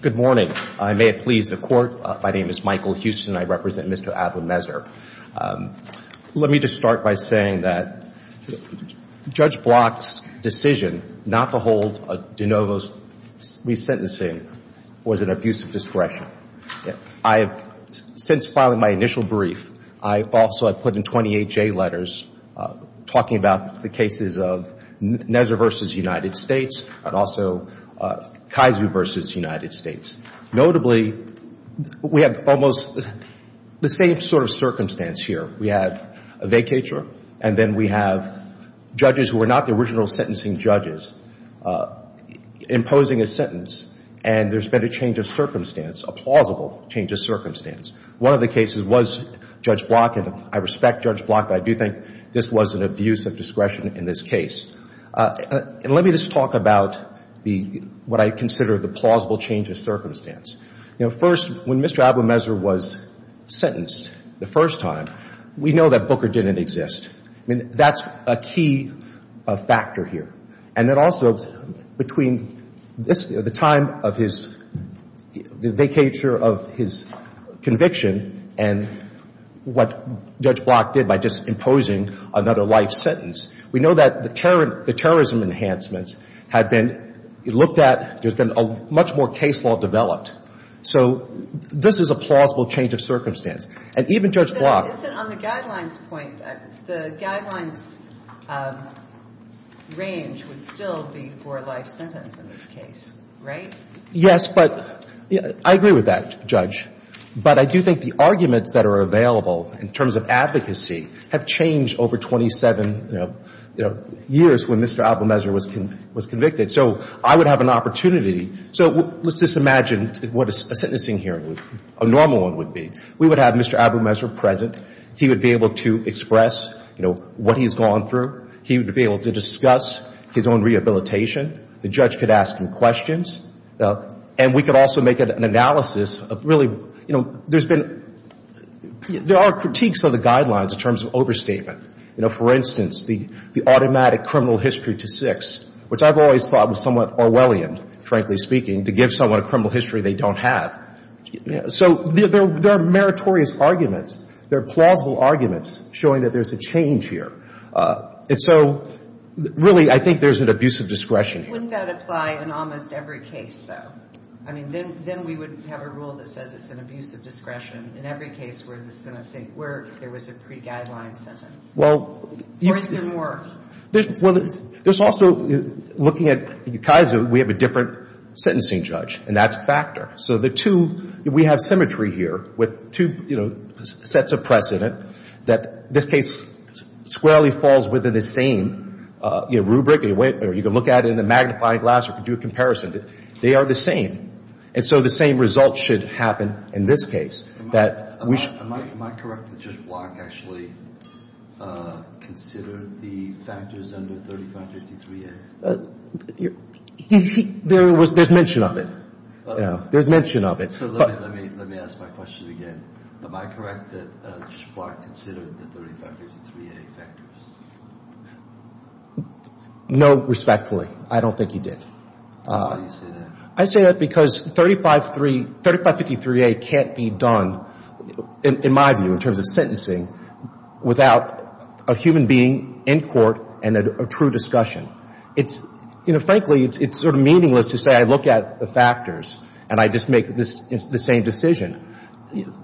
Good morning. I may it please the court. My name is Michael Houston. I represent Mr. Abu Mezer. Let me just start by saying that Judge Block's decision not to hold De Novo's re-sentencing was an abuse of discretion. I have since filing my initial brief, I also have put in 28 J letters talking about the cases of Nezra v. United States and also Kaizu v. United States. Notably, we have almost the same sort of circumstance here. We had a vacatur and then we have judges who were not the original sentencing judges imposing a sentence and there's been a change of circumstance, a plausible change of circumstance. One of the cases was Judge Block, and I respect Judge Block, but I do think this was an abuse of discretion in this case. Let me just talk about what I consider the plausible change of circumstance. First, when Mr. Abu Mezer was sentenced the first time, we know that Booker didn't exist. That's a key factor here. And then also between this, the time of his, the vacatur of his conviction and what Judge Block did by just imposing another life sentence. We know that the terrorism enhancements had been looked at, there's been a much more case law developed. So this is a plausible change of circumstance. And even Judge Block On the guidelines point, the guidelines range would still be for a life sentence in this case, right? Yes, but I agree with that, Judge. But I do think the arguments that are available in terms of advocacy have changed over 27 years when Mr. Abu Mezer was convicted. So I would have an opportunity. So let's just imagine what a sentencing hearing would, a normal one would be. We would have Mr. Abu Mezer present. He would be able to express, you know, what he's gone through. He would be able to discuss his own rehabilitation. The judge could ask him questions. And we could also make an analysis of really, you know, there's been, there are critiques of the guidelines in terms of overstatement. You know, for instance, the automatic criminal history to six, which I've always thought was somewhat Orwellian, frankly speaking, to give someone a criminal history they don't have. So there are meritorious arguments. There are plausible arguments showing that there's a change here. And so, really, I think there's an abuse of discretion. Wouldn't that apply in almost every case, though? I mean, then we would have a rule that says it's an abuse of discretion. In every case where the sentencing, where there was a pre-guideline sentence. Well. Or is there more? Well, there's also, looking at Kaiser, we have a different sentencing judge. And that's a factor. So the two, we have symmetry here with two, you know, sets of precedent that this case squarely falls within the same, you know, rubric. You can look at it in a magnifying glass or do a comparison. They are the same. And so the same result should happen in this case. Am I correct that Judge Block actually considered the factors under 3553A? There was mention of it. There's mention of it. So let me ask my question again. Am I correct that Judge Block considered the 3553A factors? No, respectfully. I don't think he did. Why do you say that? I say that because 3553A can't be done, in my view, in terms of sentencing, without a human being in court and a true discussion. It's, you know, frankly, it's sort of meaningless to say I look at the factors and I just make the same decision.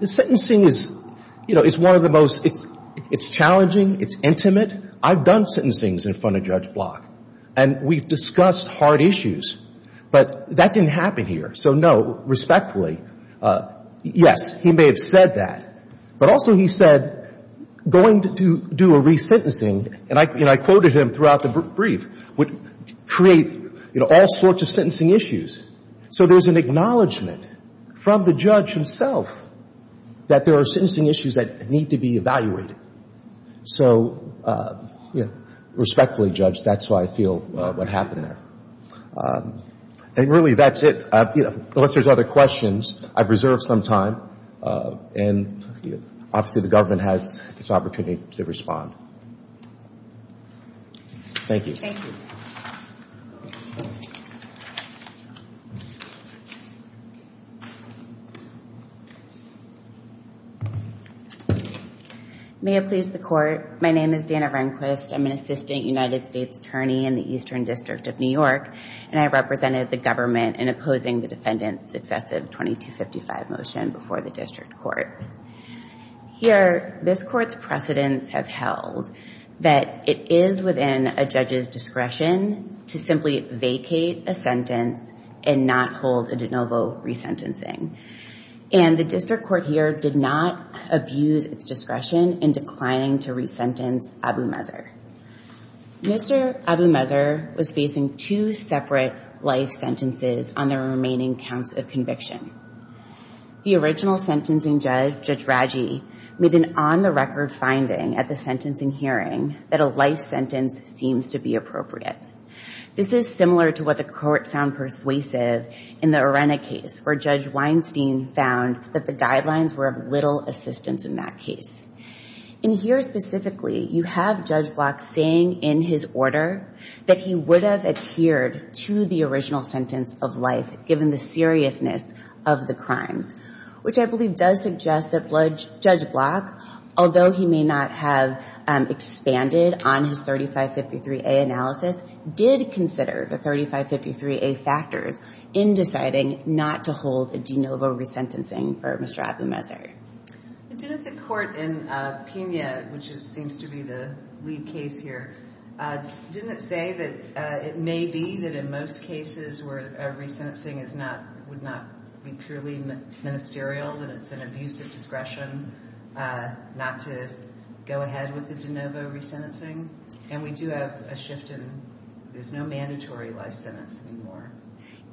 The sentencing is, you know, it's one of the most, it's challenging, it's intimate. I've done sentencings in front of Judge Block, and we've discussed hard issues, but that didn't happen here. So, no, respectfully, yes, he may have said that, but also he said going to do a resentencing, and I quoted him throughout the brief, would create, you know, all sorts of sentencing issues. So there's an acknowledgment from the judge himself that there are sentencing issues that need to be evaluated. So, you know, respectfully, Judge, that's why I feel what happened there. And really, that's it. Unless there's other questions, I've reserved some time, and obviously the government has this opportunity to respond. Thank you. Thank you. May it please the Court. My name is Dana Rehnquist. I'm an assistant United States attorney in the Eastern District of New York, and I represented the government in opposing the defendant's excessive 2255 motion before the district court. Here, this court's precedents have held that it is within a judge's discretion to simply vacate a sentence and not hold a de novo resentencing. And the district court here did not abuse its discretion in declining to resentence Abu Mazer. Mr. Abu Mazer was facing two separate life sentences on the remaining counts of conviction. The original sentencing judge, Judge Raggi, made an on-the-record finding at the sentencing hearing that a life sentence seems to be appropriate. This is similar to what the court found persuasive in the Arena case, where Judge Weinstein found that the guidelines were of little assistance in that case. In here specifically, you have Judge Block saying in his order that he would have adhered to the original sentence of life given the seriousness of the crimes, which I believe does suggest that Judge Block, although he may not have expanded on his 3553A analysis, did consider the 3553A factors in deciding not to hold a de novo resentencing for Mr. Abu Mazer. Didn't the court in Pena, which seems to be the lead case here, didn't it say that it may be that in most cases where a resentencing would not be purely ministerial, that it's an abuse of discretion not to go ahead with the de novo resentencing? And we do have a shift in there's no mandatory life sentence anymore.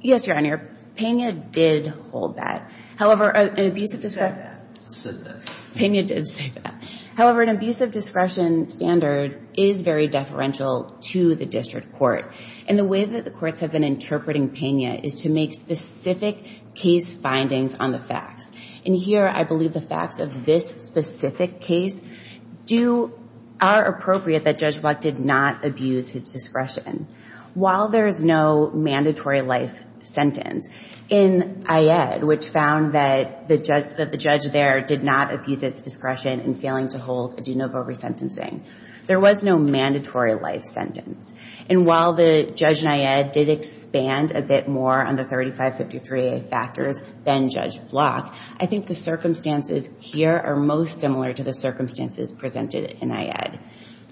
Yes, Your Honor. Pena did hold that. However, an abuse of discretion. It said that. It said that. Pena did say that. However, an abuse of discretion standard is very deferential to the district court. And the way that the courts have been interpreting Pena is to make specific case findings on the facts. And here I believe the facts of this specific case are appropriate that Judge Block did not abuse his discretion. While there is no mandatory life sentence in IED, which found that the judge there did not abuse its discretion in failing to hold a de novo resentencing, there was no mandatory life sentence. And while the judge in IED did expand a bit more on the 3553A factors than Judge Block, I think the circumstances here are most similar to the circumstances presented in IED.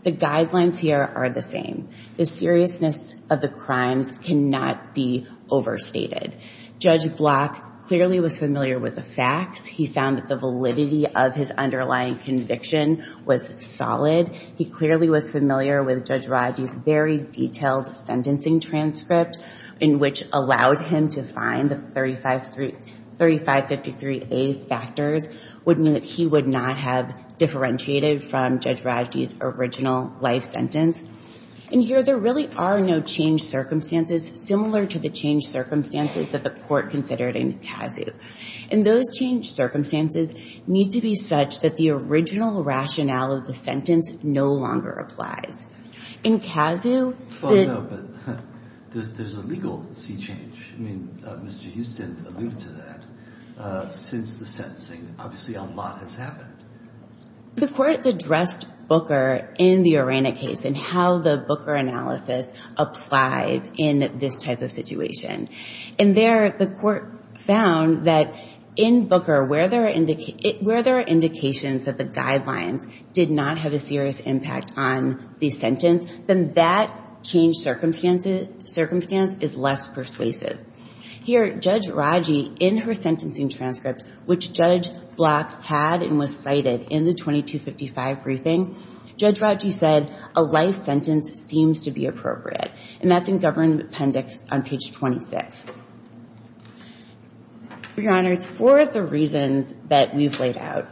The guidelines here are the same. The seriousness of the crimes cannot be overstated. Judge Block clearly was familiar with the facts. He found that the validity of his underlying conviction was solid. He clearly was familiar with Judge Raji's very detailed sentencing transcript, in which allowed him to find the 3553A factors would mean that he would not have differentiated from Judge Raji's original life sentence. And here there really are no changed circumstances similar to the changed circumstances that the court considered in CASU. And those changed circumstances need to be such that the original rationale of the sentence no longer applies. In CASU, the – Well, no, but there's a legal sea change. I mean, Mr. Houston alluded to that. Since the sentencing, obviously a lot has happened. The courts addressed Booker in the Urena case and how the Booker analysis applies in this type of situation. And there the court found that in Booker where there are indications that the guidelines did not have a serious impact on the sentence, then that changed circumstance is less persuasive. Here, Judge Raji, in her sentencing transcript, which Judge Block had and was cited in the 2255 briefing, Judge Raji said a life sentence seems to be appropriate. And that's in government appendix on page 26. Your Honors, for the reasons that we've laid out,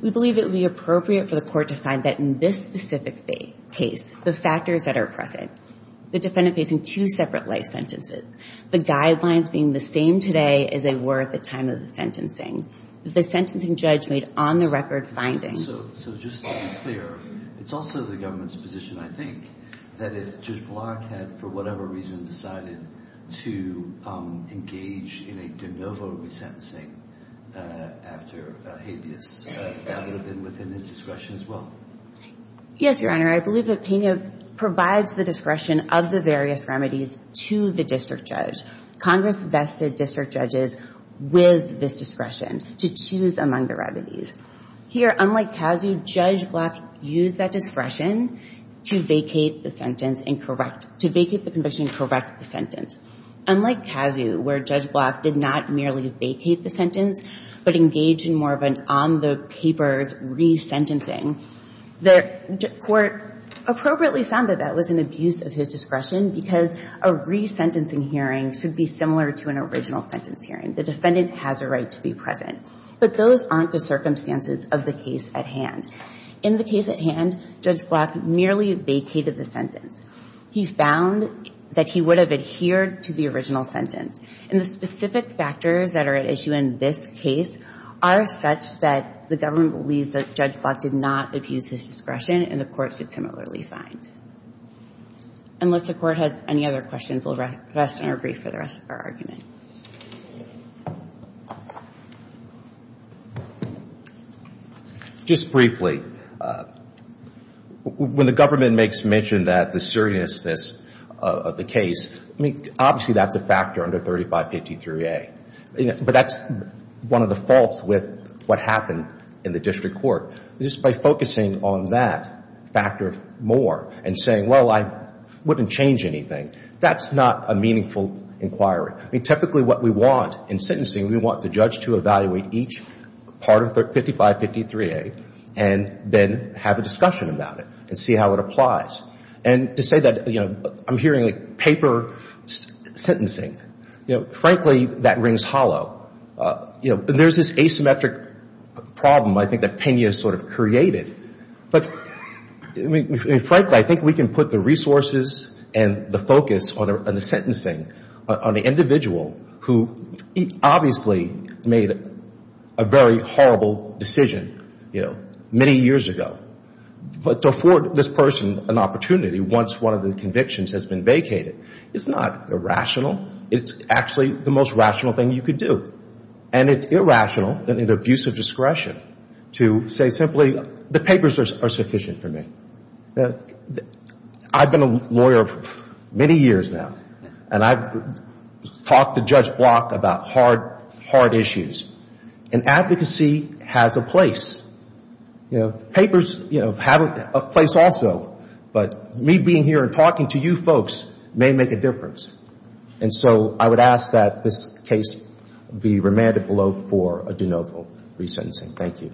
we believe it would be appropriate for the court to find that in this specific case, the factors that are present, the defendant facing two separate life sentences, the guidelines being the same today as they were at the time of the sentencing. The sentencing judge made on-the-record findings. So just to be clear, it's also the government's position, I think, that if Judge Block had, for whatever reason, decided to engage in a de novo resentencing after habeas, that would have been within his discretion as well? Yes, Your Honor. I believe the opinion provides the discretion of the various remedies to the district judge. Congress vested district judges with this discretion to choose among the remedies. Here, unlike Kazoo, Judge Block used that discretion to vacate the conviction and correct the sentence. Unlike Kazoo, where Judge Block did not merely vacate the sentence but engaged in more of an on-the-papers resentencing, the court appropriately found that that was an abuse of his discretion because a resentencing hearing should be similar to an original sentence hearing. The defendant has a right to be present. But those aren't the circumstances of the case at hand. In the case at hand, Judge Block merely vacated the sentence. He found that he would have adhered to the original sentence. And the specific factors that are at issue in this case are such that the government believes that Judge Block did not abuse his discretion and the court should similarly find. Unless the court has any other questions, we'll rest and agree for the rest of our argument. Just briefly, when the government makes mention that the seriousness of the case, obviously that's a factor under 3553A. But that's one of the faults with what happened in the district court. Just by focusing on that factor more and saying, well, I wouldn't change anything, that's not a meaningful inquiry. I mean, typically what we want in sentencing, we want the judge to evaluate each part of 5553A and then have a discussion about it and see how it applies. And to say that, you know, I'm hearing paper sentencing, you know, frankly, that rings hollow. You know, there's this asymmetric problem, I think, that Pena sort of created. But frankly, I think we can put the resources and the focus on the sentencing on the individual who obviously made a very horrible decision, you know, many years ago. But to afford this person an opportunity once one of the convictions has been vacated, it's not irrational. It's actually the most rational thing you could do. And it's irrational and an abuse of discretion to say simply the papers are sufficient for me. I've been a lawyer many years now, and I've talked to Judge Block about hard, hard issues. And advocacy has a place. You know, papers, you know, have a place also. But me being here and talking to you folks may make a difference. And so I would ask that this case be remanded below for a de novo resentencing. Thank you.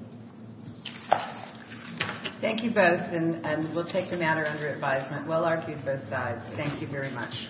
Thank you both, and we'll take the matter under advisement. Well-argued both sides. Thank you very much.